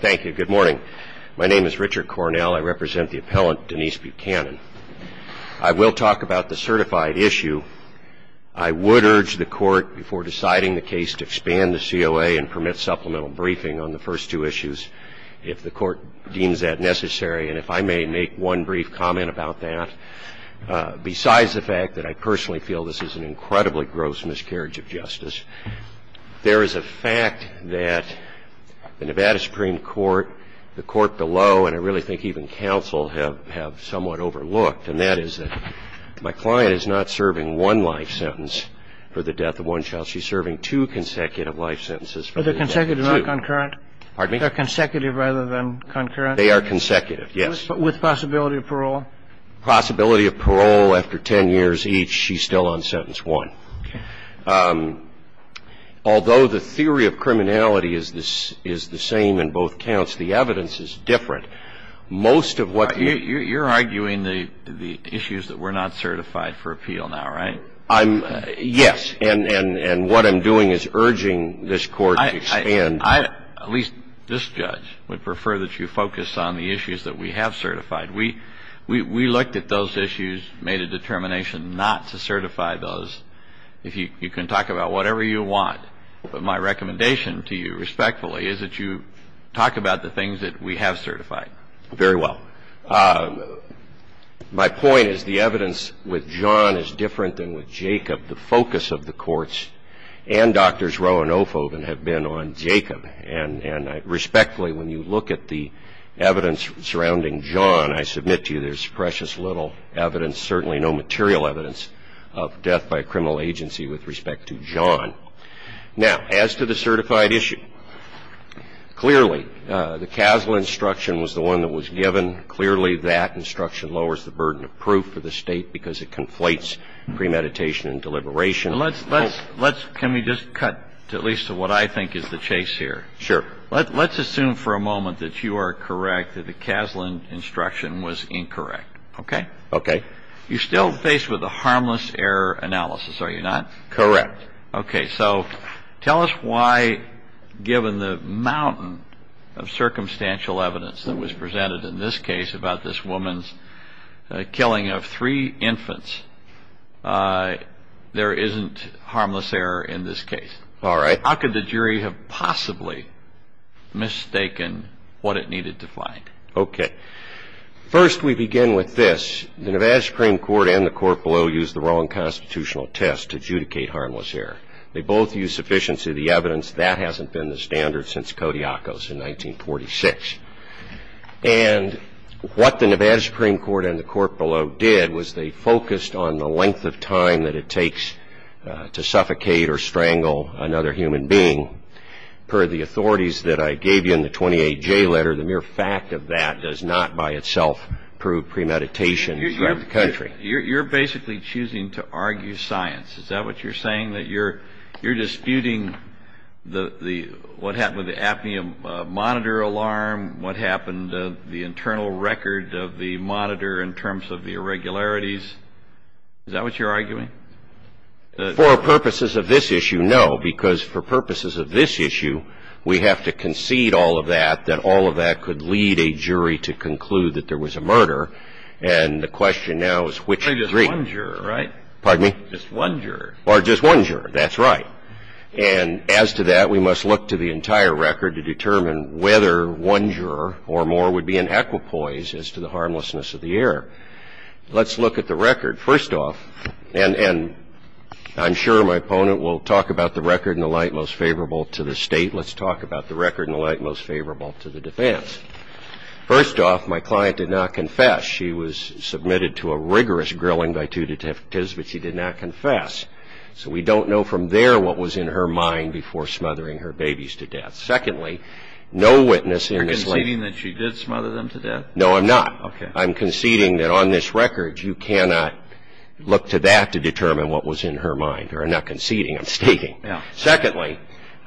Thank you. Good morning. My name is Richard Cornell. I represent the appellant Denise Buchanan. I will talk about the certified issue. I would urge the Court, before deciding the case, to expand the COA and permit supplemental briefing on the first two issues, if the Court deems that necessary, and if I may make one brief comment about that. Besides the fact that I personally feel this is an incredibly gross miscarriage of justice, there is a fact that the Nevada Supreme Court, the Court below, and I really think even counsel have somewhat overlooked, and that is that my client is not serving one life sentence for the death of one child. She's serving two consecutive life sentences for the death of two. Kennedy Are they consecutive, not concurrent? Buchanan Pardon me? Kennedy Are they consecutive rather than concurrent? Buchanan They are consecutive, yes. Kennedy With possibility of parole? Buchanan Possibility of parole after ten years each, she's still on sentence one. Kennedy Okay. Now, the issue of criminality is the same in both counts. The evidence is different. Most of what you Buchanan You're arguing the issues that we're not certified for appeal now, right? Kennedy Yes. And what I'm doing is urging this Court to expand Buchanan I, at least this judge, would prefer that you focus on the issues that we have certified. We looked at those issues, made a determination not to certify those. If you can talk about whatever you want, but my recommendation to you, respectfully, is that you talk about the things that we have certified. Kennedy Very well. My point is the evidence with John is different than with Jacob. The focus of the courts and Drs. Roe and Ophoffen have been on Jacob. And respectfully, when you look at the evidence surrounding John, I submit to you there's precious little evidence, certainly no material evidence of death by a criminal agency with respect to John. Now, as to the certified issue, clearly the CASLA instruction was the one that was given. Clearly that instruction lowers the burden of proof for the State because it conflates premeditation and deliberation. Now, let's assume for a moment that you are correct that the CASLA instruction was incorrect. Okay? Kennedy Okay. Kennedy You're still faced with a harmless error analysis, are you not? Kennedy Correct. Kennedy Okay. So tell us why, given the mountain of circumstantial evidence that was presented in this case about this woman's killing of three infants, there isn't any evidence that the CASLA instruction was incorrect. How could the jury have possibly mistaken what it needed to find? Kennedy Okay. First, we begin with this. The Nevada Supreme Court and the court below used the wrong constitutional test to adjudicate harmless error. They both used sufficiency of the evidence. That hasn't been the standard since Kodiakos in 1946. And what the Nevada Supreme Court and the court below did was they focused on the length of time that it takes to suffocate or strangle another human being. Per the authorities that I gave you in the 28J letter, the mere fact of that does not by itself prove premeditation throughout the country. Kennedy You're basically choosing to argue science. Is that what you're saying? That you're disputing what happened with the apnea monitor alarm, what happened to the internal record of the monitor in terms of the irregularities? Kennedy For purposes of this issue, no, because for purposes of this issue, we have to concede all of that, that all of that could lead a jury to conclude that there was a murder. And the question now is which of the three. Breyer Just one juror, right? Kennedy Pardon me? Breyer Just one juror. Kennedy Or just one juror. That's right. And as to that, we must look to the entire record to determine whether one juror or more would be in equipoise as to the harmlessness of the error. Let's look at the record. First off, and I'm sure my opponent will talk about the record in the light most favorable to the state. Let's talk about the record in the light most favorable to the defense. First off, my client did not confess. She was submitted to a rigorous grilling by two detectives, but she did not confess. So we don't know from there what was in her mind before smothering her babies to death. Secondly, no witness in this case. Breyer Are you conceding that she did smother them to death? Kennedy No, I'm not. Breyer Okay. Kennedy I'm conceding that on this record you cannot look to that to determine what was in her mind. Or I'm not conceding, I'm stating. Breyer Yeah. Kennedy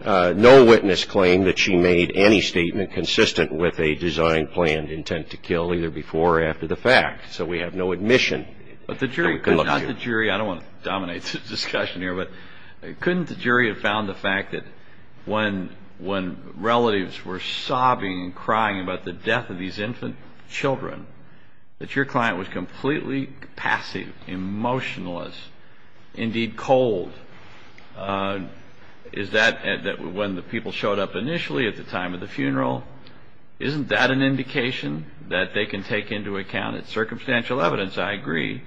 Secondly, no witness claimed that she made any statement consistent with a design planned intent to kill either before or after the fact. So we have no admission. Breyer But the jury, not the jury. I don't want to dominate the discussion here. But couldn't the jury have found the fact that when relatives were sobbing and crying about the death of these infant children, that your client was completely passive, emotionless, indeed cold? Is that when the people showed up initially at the time of the funeral? Isn't that an indication that they can take into account? It's circumstantial evidence, I agree.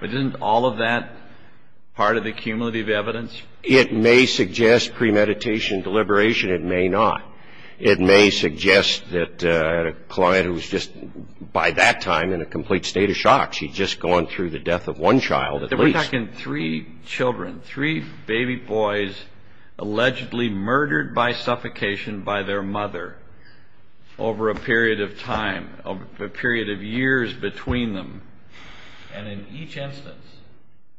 But isn't all of that part of the cumulative evidence? Kennedy It may suggest premeditation, deliberation. It may not. It may suggest that a client who was just by that time in a complete state of shock. She'd just gone through the death of one child at least. Breyer We're talking three children, three baby boys allegedly murdered by suffocation by their mother over a period of time, over a period of years between them. And in each instance,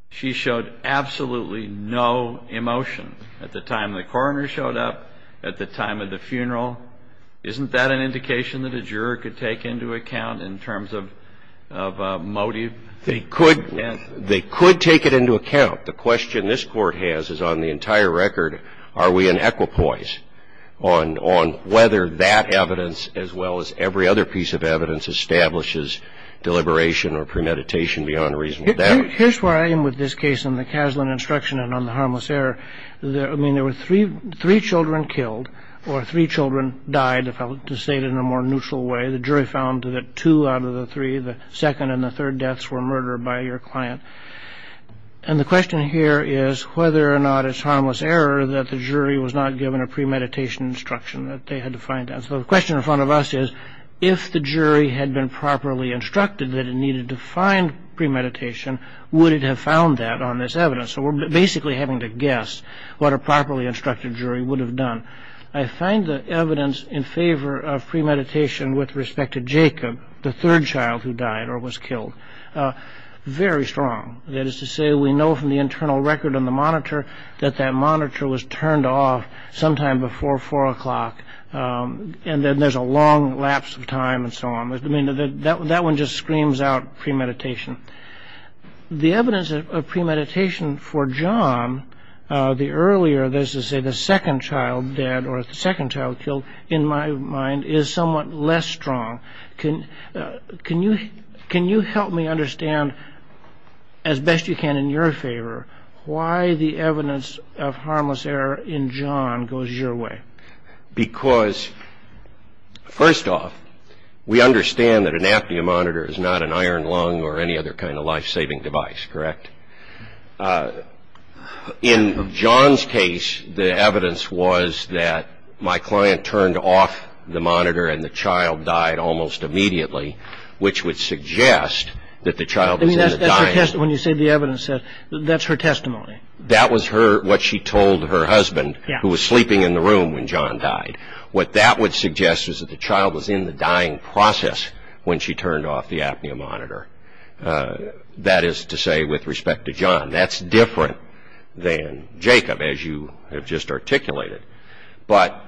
she showed absolutely no emotion at the time the coroner showed up, at the time of the funeral. Isn't that an indication that a juror could take into account in terms of motive? Kennedy They could take it into account. The question this Court has is on the entire record, are we in equipoise on whether that evidence, as well as every other piece of evidence, establishes deliberation or premeditation beyond reasonable doubt? Roberts Here's where I am with this case on the Kaslan instruction and on the harmless error. I mean, there were three children killed or three children died, if I were to say it in a more neutral way. The jury found that two out of the three, the second and the third deaths, were murdered by your client. And the question here is whether or not it's harmless error that the jury was not given a premeditation instruction, that they had to find out. So the question in front of us is, if the jury had been properly instructed that it needed to find premeditation, would it have found that on this evidence? So we're basically having to guess what a properly instructed jury would have done. I find the evidence in favor of premeditation with respect to Jacob, the third child who died or was killed, very strong. That is to say, we know from the internal record on the monitor that that monitor was turned off sometime before 4 o'clock. And then there's a long lapse of time and so on. I mean, that one just screams out premeditation. The evidence of premeditation for John, the earlier, that is to say, the second child dead or the second child killed, in my mind is somewhat less strong. Can you help me understand, as best you can in your favor, why the evidence of harmless error in John goes your way? Because, first off, we understand that an apnea monitor is not an iron lung or any other kind of life-saving device, correct? In John's case, the evidence was that my client turned off the monitor and the child died almost immediately, which would suggest that the child was in the dying process. When you say the evidence, that's her testimony? That was what she told her husband, who was sleeping in the room when John died. What that would suggest is that the child was in the dying process when she turned off the apnea monitor. That is to say, with respect to John, that's different than Jacob, as you have just articulated. But,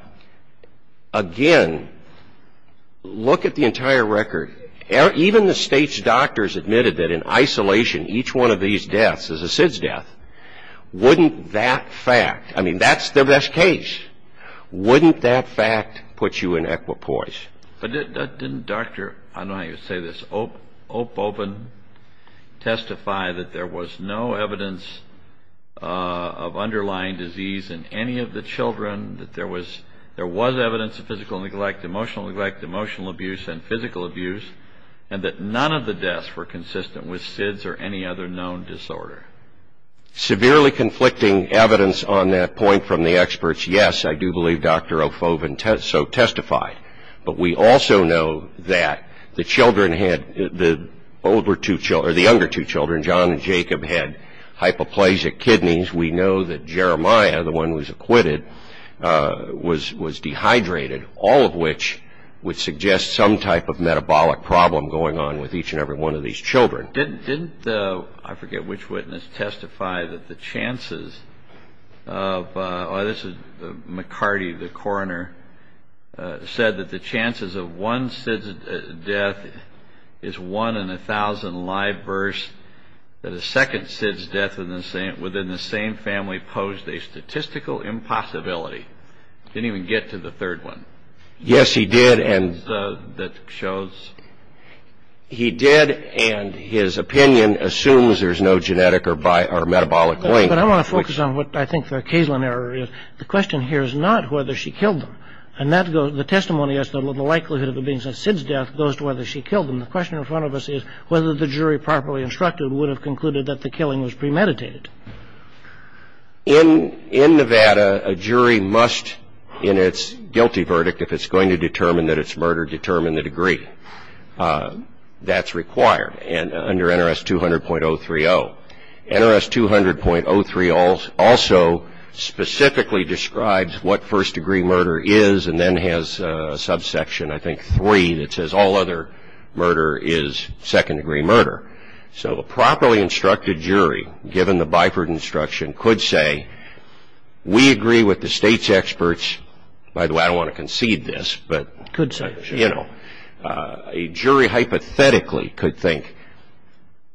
again, look at the entire record. Even the state's doctors admitted that in isolation, each one of these deaths is a SIDS death. Wouldn't that fact, I mean, that's the best case. Wouldn't that fact put you in equipoise? But didn't Dr. Opoven testify that there was no evidence of underlying disease in any of the children, that there was evidence of physical neglect, emotional neglect, emotional abuse, and physical abuse, and that none of the deaths were consistent with SIDS or any other known disorder? Severely conflicting evidence on that point from the experts, yes, I do believe Dr. Opoven testified. But we also know that the children had, the younger two children, John and Jacob, had hypoplasic kidneys. We know that Jeremiah, the one who was acquitted, was dehydrated, all of which would suggest some type of metabolic problem going on with each and every one of these children. Didn't, I forget which witness, testify that the chances of, oh, this is McCarty, the coroner, said that the chances of one SIDS death is one in 1,000 live births, that a second SIDS death within the same family posed a statistical impossibility. Didn't even get to the third one. Yes, he did. That shows. He did, and his opinion assumes there's no genetic or metabolic link. But I want to focus on what I think the Kaysland error is. The question here is not whether she killed them. And that goes, the testimony as to the likelihood of a being SIDS death goes to whether she killed them. The question in front of us is whether the jury properly instructed would have concluded that the killing was premeditated. In Nevada, a jury must, in its guilty verdict, if it's going to determine that it's murder, determine the degree. That's required under NRS 200.030. NRS 200.03 also specifically describes what first-degree murder is and then has a subsection, I think, three, that says all other murder is second-degree murder. So a properly instructed jury, given the Byford instruction, could say, we agree with the state's experts. By the way, I don't want to concede this, but, you know, a jury hypothetically could think,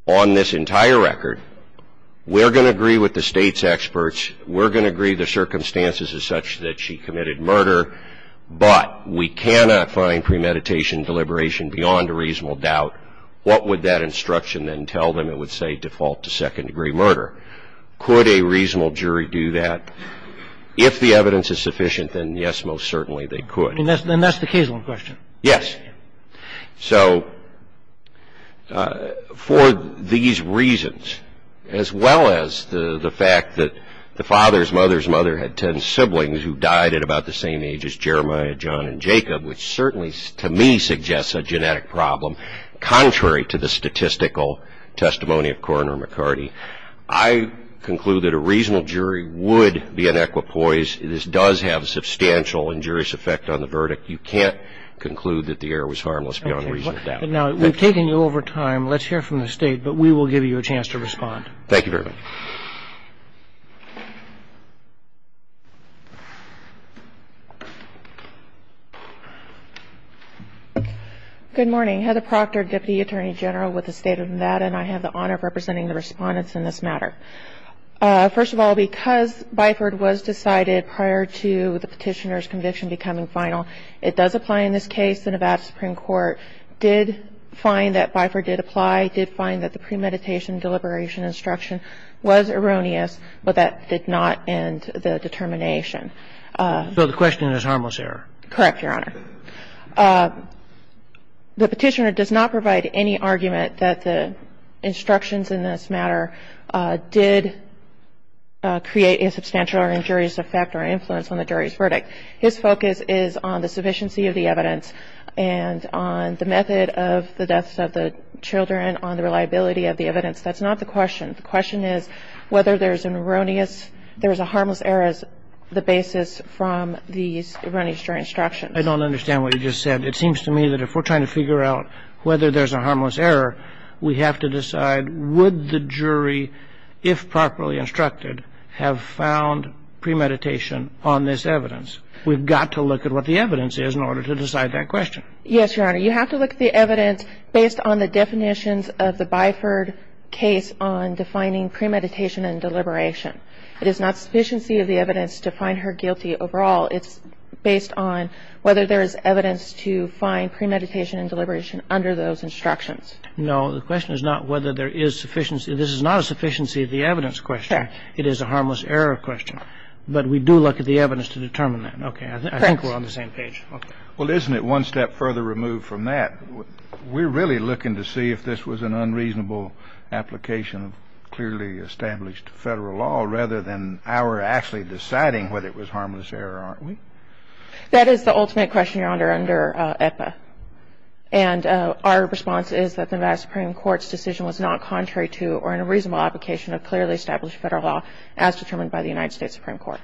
on this entire record, we're going to agree with the state's experts. We're going to agree the circumstances are such that she committed murder, but we cannot find premeditation deliberation beyond a reasonable doubt. If the evidence is sufficient, then, yes, most certainly, they could. And that's the case on the question. Yes. So for these reasons, as well as the fact that the father's mother's mother had ten siblings who died at about the same age as Jeremiah, John, and Jacob, which certainly, to me, suggests a genetic problem, contrary to the statistical testimony of Coroner McCarty, I conclude that a reasonable jury would be an equipoise. This does have substantial injurious effect on the verdict. You can't conclude that the error was harmless beyond a reasonable doubt. Okay. Now, we've taken you over time. Let's hear from the State, but we will give you a chance to respond. Thank you very much. Good morning. Heather Proctor, Deputy Attorney General, with the State of Nevada, and I have the honor of representing the Respondents in this matter. First of all, because Biford was decided prior to the Petitioner's conviction becoming final, it does apply in this case. The Nevada Supreme Court did find that Biford did apply, did find that the premeditation deliberation instruction was erroneous, but that did not end the determination. So the question is harmless error. Correct, Your Honor. The Petitioner does not provide any argument that the instructions in this matter did create a substantial or injurious effect or influence on the jury's verdict. His focus is on the sufficiency of the evidence and on the method of the deaths of the children, on the reliability of the evidence. That's not the question. The question is whether there's an erroneous, there was a harmless error as the basis from these erroneous jury instructions. I don't understand what you just said. It seems to me that if we're trying to figure out whether there's a harmless error, we have to decide would the jury, if properly instructed, have found premeditation on this evidence. We've got to look at what the evidence is in order to decide that question. Yes, Your Honor. You have to look at the evidence based on the definitions of the Biford case on defining premeditation and deliberation. It is not sufficiency of the evidence to find her guilty overall. It's based on whether there is evidence to find premeditation and deliberation under those instructions. No. The question is not whether there is sufficiency. This is not a sufficiency of the evidence question. It is a harmless error question. But we do look at the evidence to determine that. Okay. I think we're on the same page. Well, isn't it one step further removed from that? We're really looking to see if this was an unreasonable application of clearly We're going to argue that it was an unreasonable application of clearly established federal law. So we're not actually deciding whether it was harmless error, aren't we? That is the ultimate question, Your Honor, under EPA. And our response is that the United Supreme Court's decision was not contrary to or unreasonable application of clearly established federal law as determined by the United States Supreme Court.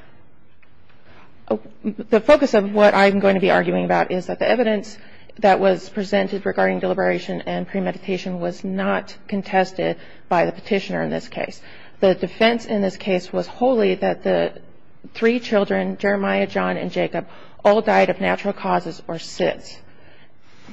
The focus of what I'm going to be arguing about is that the evidence that was presented regarding deliberation and premeditation was not contested by the petitioner in this case. The defense in this case was wholly that the three children, Jeremiah, John, and Jacob, all died of natural causes or SIDS.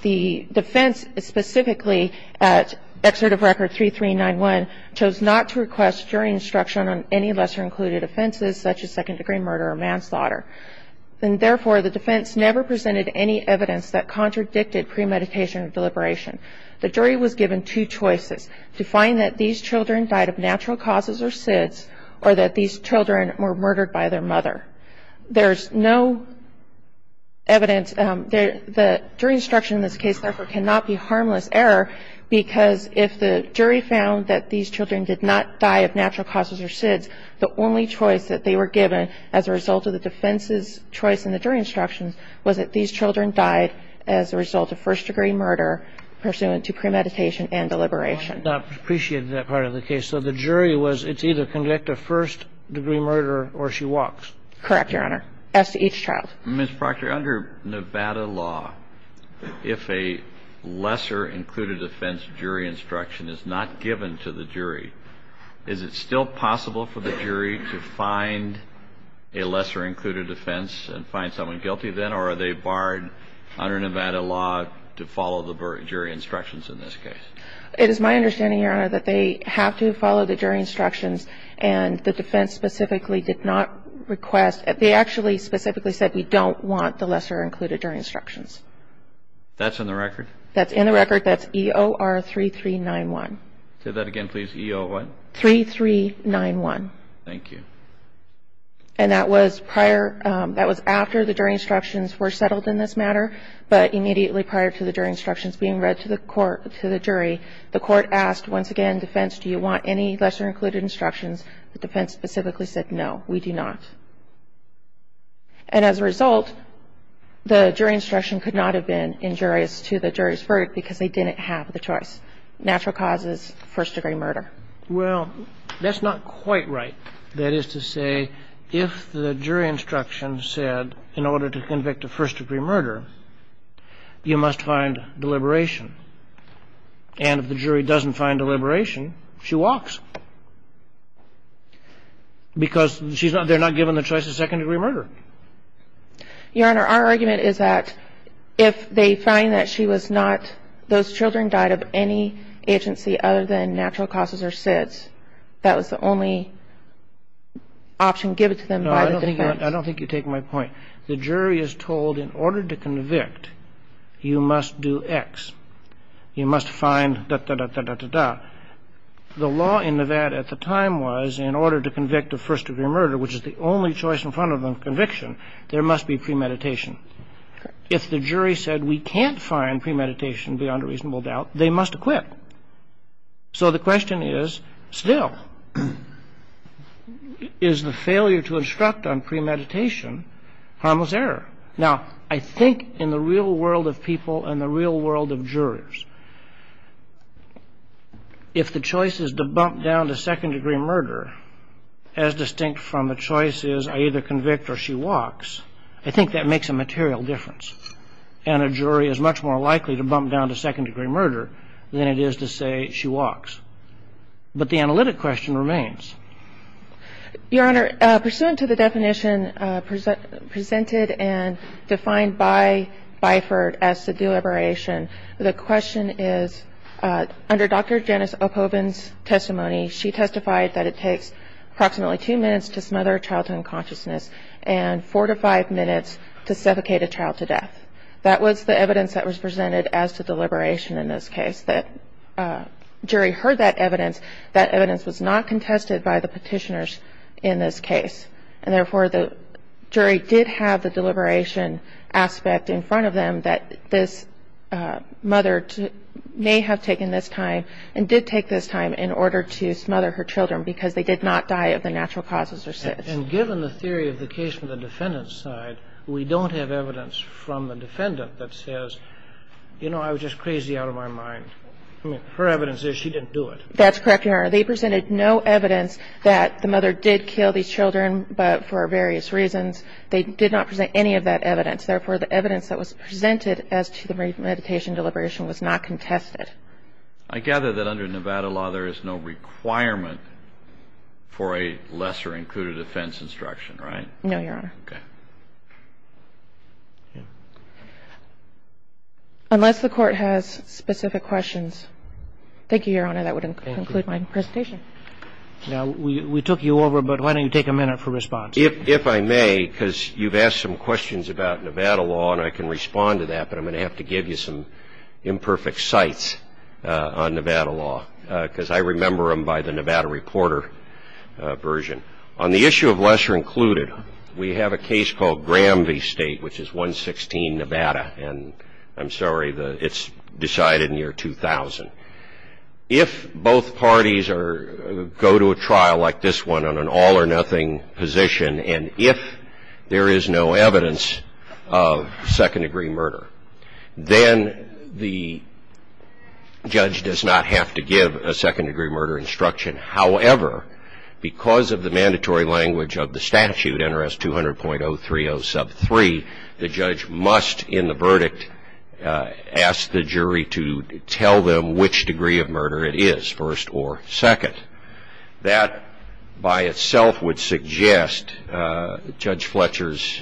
The defense specifically at Excerpt of Record 3391 chose not to request jury instruction on any lesser-included offenses such as second-degree murder or manslaughter. And therefore, the defense never presented any evidence that contradicted premeditation and deliberation. The jury was given two choices, to find that these children died of natural causes or SIDS or that these children were murdered by their mother. There's no evidence. The jury instruction in this case, therefore, cannot be harmless error because if the jury found that these children did not die of natural causes or SIDS, the only choice that they were given as a result of the defense's choice in the jury instructions was that these children died as a result of first-degree murder pursuant to premeditation and deliberation. Kennedy. I appreciate that part of the case. So the jury was, it's either conduct a first-degree murder or she walks. Correct, Your Honor. As to each child. Ms. Proctor, under Nevada law, if a lesser-included offense jury instruction is not given to the jury, is it still possible for the jury to find a lesser-included offense and find someone guilty then, or are they barred under Nevada law to follow the jury instructions in this case? It is my understanding, Your Honor, that they have to follow the jury instructions and the defense specifically did not request. They actually specifically said we don't want the lesser-included jury instructions. That's in the record? That's in the record. That's EOR3391. Say that again, please. EOR what? 3391. Thank you. And that was prior, that was after the jury instructions were settled in this matter, but immediately prior to the jury instructions being read to the court, to the jury, the court asked, once again, defense, do you want any lesser-included instructions? The defense specifically said no, we do not. And as a result, the jury instruction could not have been injurious to the jury's verdict because they didn't have the choice. Natural cause is first-degree murder. Well, that's not quite right. That is to say, if the jury instruction said in order to convict a first-degree murder, you must find deliberation. And if the jury doesn't find deliberation, she walks. Because they're not given the choice of second-degree murder. Your Honor, our argument is that if they find that she was not, those children died of any agency other than natural causes or SIDS, that was the only option given to them by the defense. No, I don't think you take my point. The jury is told in order to convict, you must do X. You must find da-da-da-da-da-da-da. The law in Nevada at the time was in order to convict a first-degree murder, which is the only choice in front of a conviction, there must be premeditation. If the jury said we can't find premeditation beyond a reasonable doubt, they must acquit. So the question is still, is the failure to instruct on premeditation harmless error? Now, I think in the real world of people and the real world of jurors, if the choice is to bump down to second-degree murder, as distinct from the choice is I either convict or she walks, I think that makes a material difference. And a jury is much more likely to bump down to second-degree murder than it is to say she walks. But the analytic question remains. Your Honor, pursuant to the definition presented and defined by Byford as to deliberation, the question is under Dr. Janice Oppobin's testimony, she testified that it takes approximately two minutes to smother a child to unconsciousness and four to five minutes to suffocate a child to death. That was the evidence that was presented as to deliberation in this case. The jury heard that evidence. That evidence was not contested by the Petitioners in this case. And therefore, the jury did have the deliberation aspect in front of them that this mother may have taken this time and did take this time in order to smother her children because they did not die of the natural causes or sins. And given the theory of the case from the defendant's side, we don't have evidence from the defendant that says, you know, I was just crazy out of my mind. I mean, her evidence is she didn't do it. That's correct, Your Honor. They presented no evidence that the mother did kill these children, but for various reasons, they did not present any of that evidence. Therefore, the evidence that was presented as to the meditation deliberation was not contested. I gather that under Nevada law, there is no requirement for a lesser included offense instruction, right? No, Your Honor. Okay. Unless the Court has specific questions. Thank you, Your Honor. That would conclude my presentation. Now, we took you over, but why don't you take a minute for response? If I may, because you've asked some questions about Nevada law, and I can respond to that, but I'm going to have to give you some imperfect sites on Nevada law because I remember them by the Nevada reporter version. On the issue of lesser included, we have a case called Gramby State, which is 116 Nevada, and I'm sorry, it's decided in the year 2000. If both parties go to a trial like this one on an all or nothing position, and if there is no evidence of second degree murder, then the judge does not have to give a second degree murder instruction. However, because of the mandatory language of the statute, NRS 200.030 sub 3, the judge must in the verdict ask the jury to tell them which degree of murder it is, first or second. That by itself would suggest Judge Fletcher's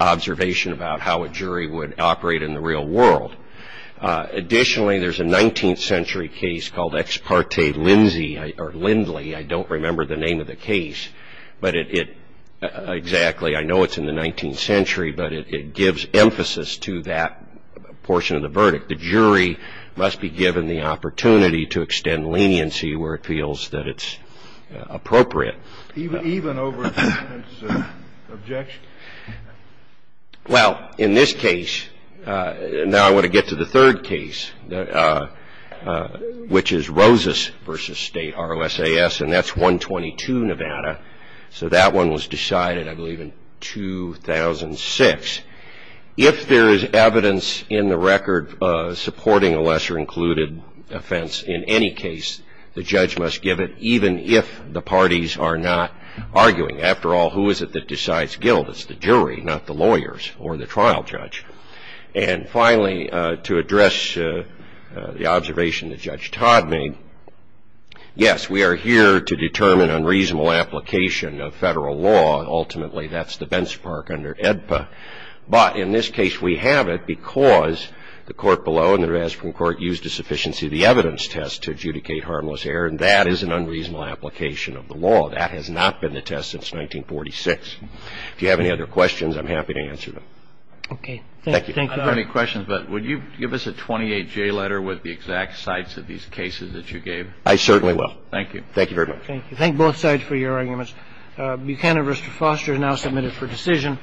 observation about how a jury would operate in the real world. Additionally, there's a 19th century case called Ex parte Lindley. I don't remember the name of the case, exactly. I know it's in the 19th century, but it gives emphasis to that portion of the verdict. The jury must be given the opportunity to extend leniency where it feels that it's appropriate. Even over a defendant's objection? Well, in this case, now I want to get to the third case, which is Rosas v. State RLSAS, and that's 122 Nevada. So that one was decided, I believe, in 2006. If there is evidence in the record supporting a lesser included offense in any case, the judge must give it even if the parties are not arguing. After all, who is it that decides guilt? It's the jury, not the lawyers or the trial judge. And finally, to address the observation that Judge Todd made, yes, we are here to determine unreasonable application of federal law. Ultimately, that's the benchmark under AEDPA, but in this case, we have it because the court below and the rest of the court used a sufficiency of the evidence test to adjudicate harmless error, and that is an unreasonable application of the law. That has not been the test since 1946. If you have any other questions, I'm happy to answer them. Thank you. I don't have any questions, but would you give us a 28-J letter with the exact sites of these cases that you gave? I certainly will. Thank you. Thank you very much. Thank you. Thank both sides for your arguments. Buchanan v. Foster is now submitted for decision.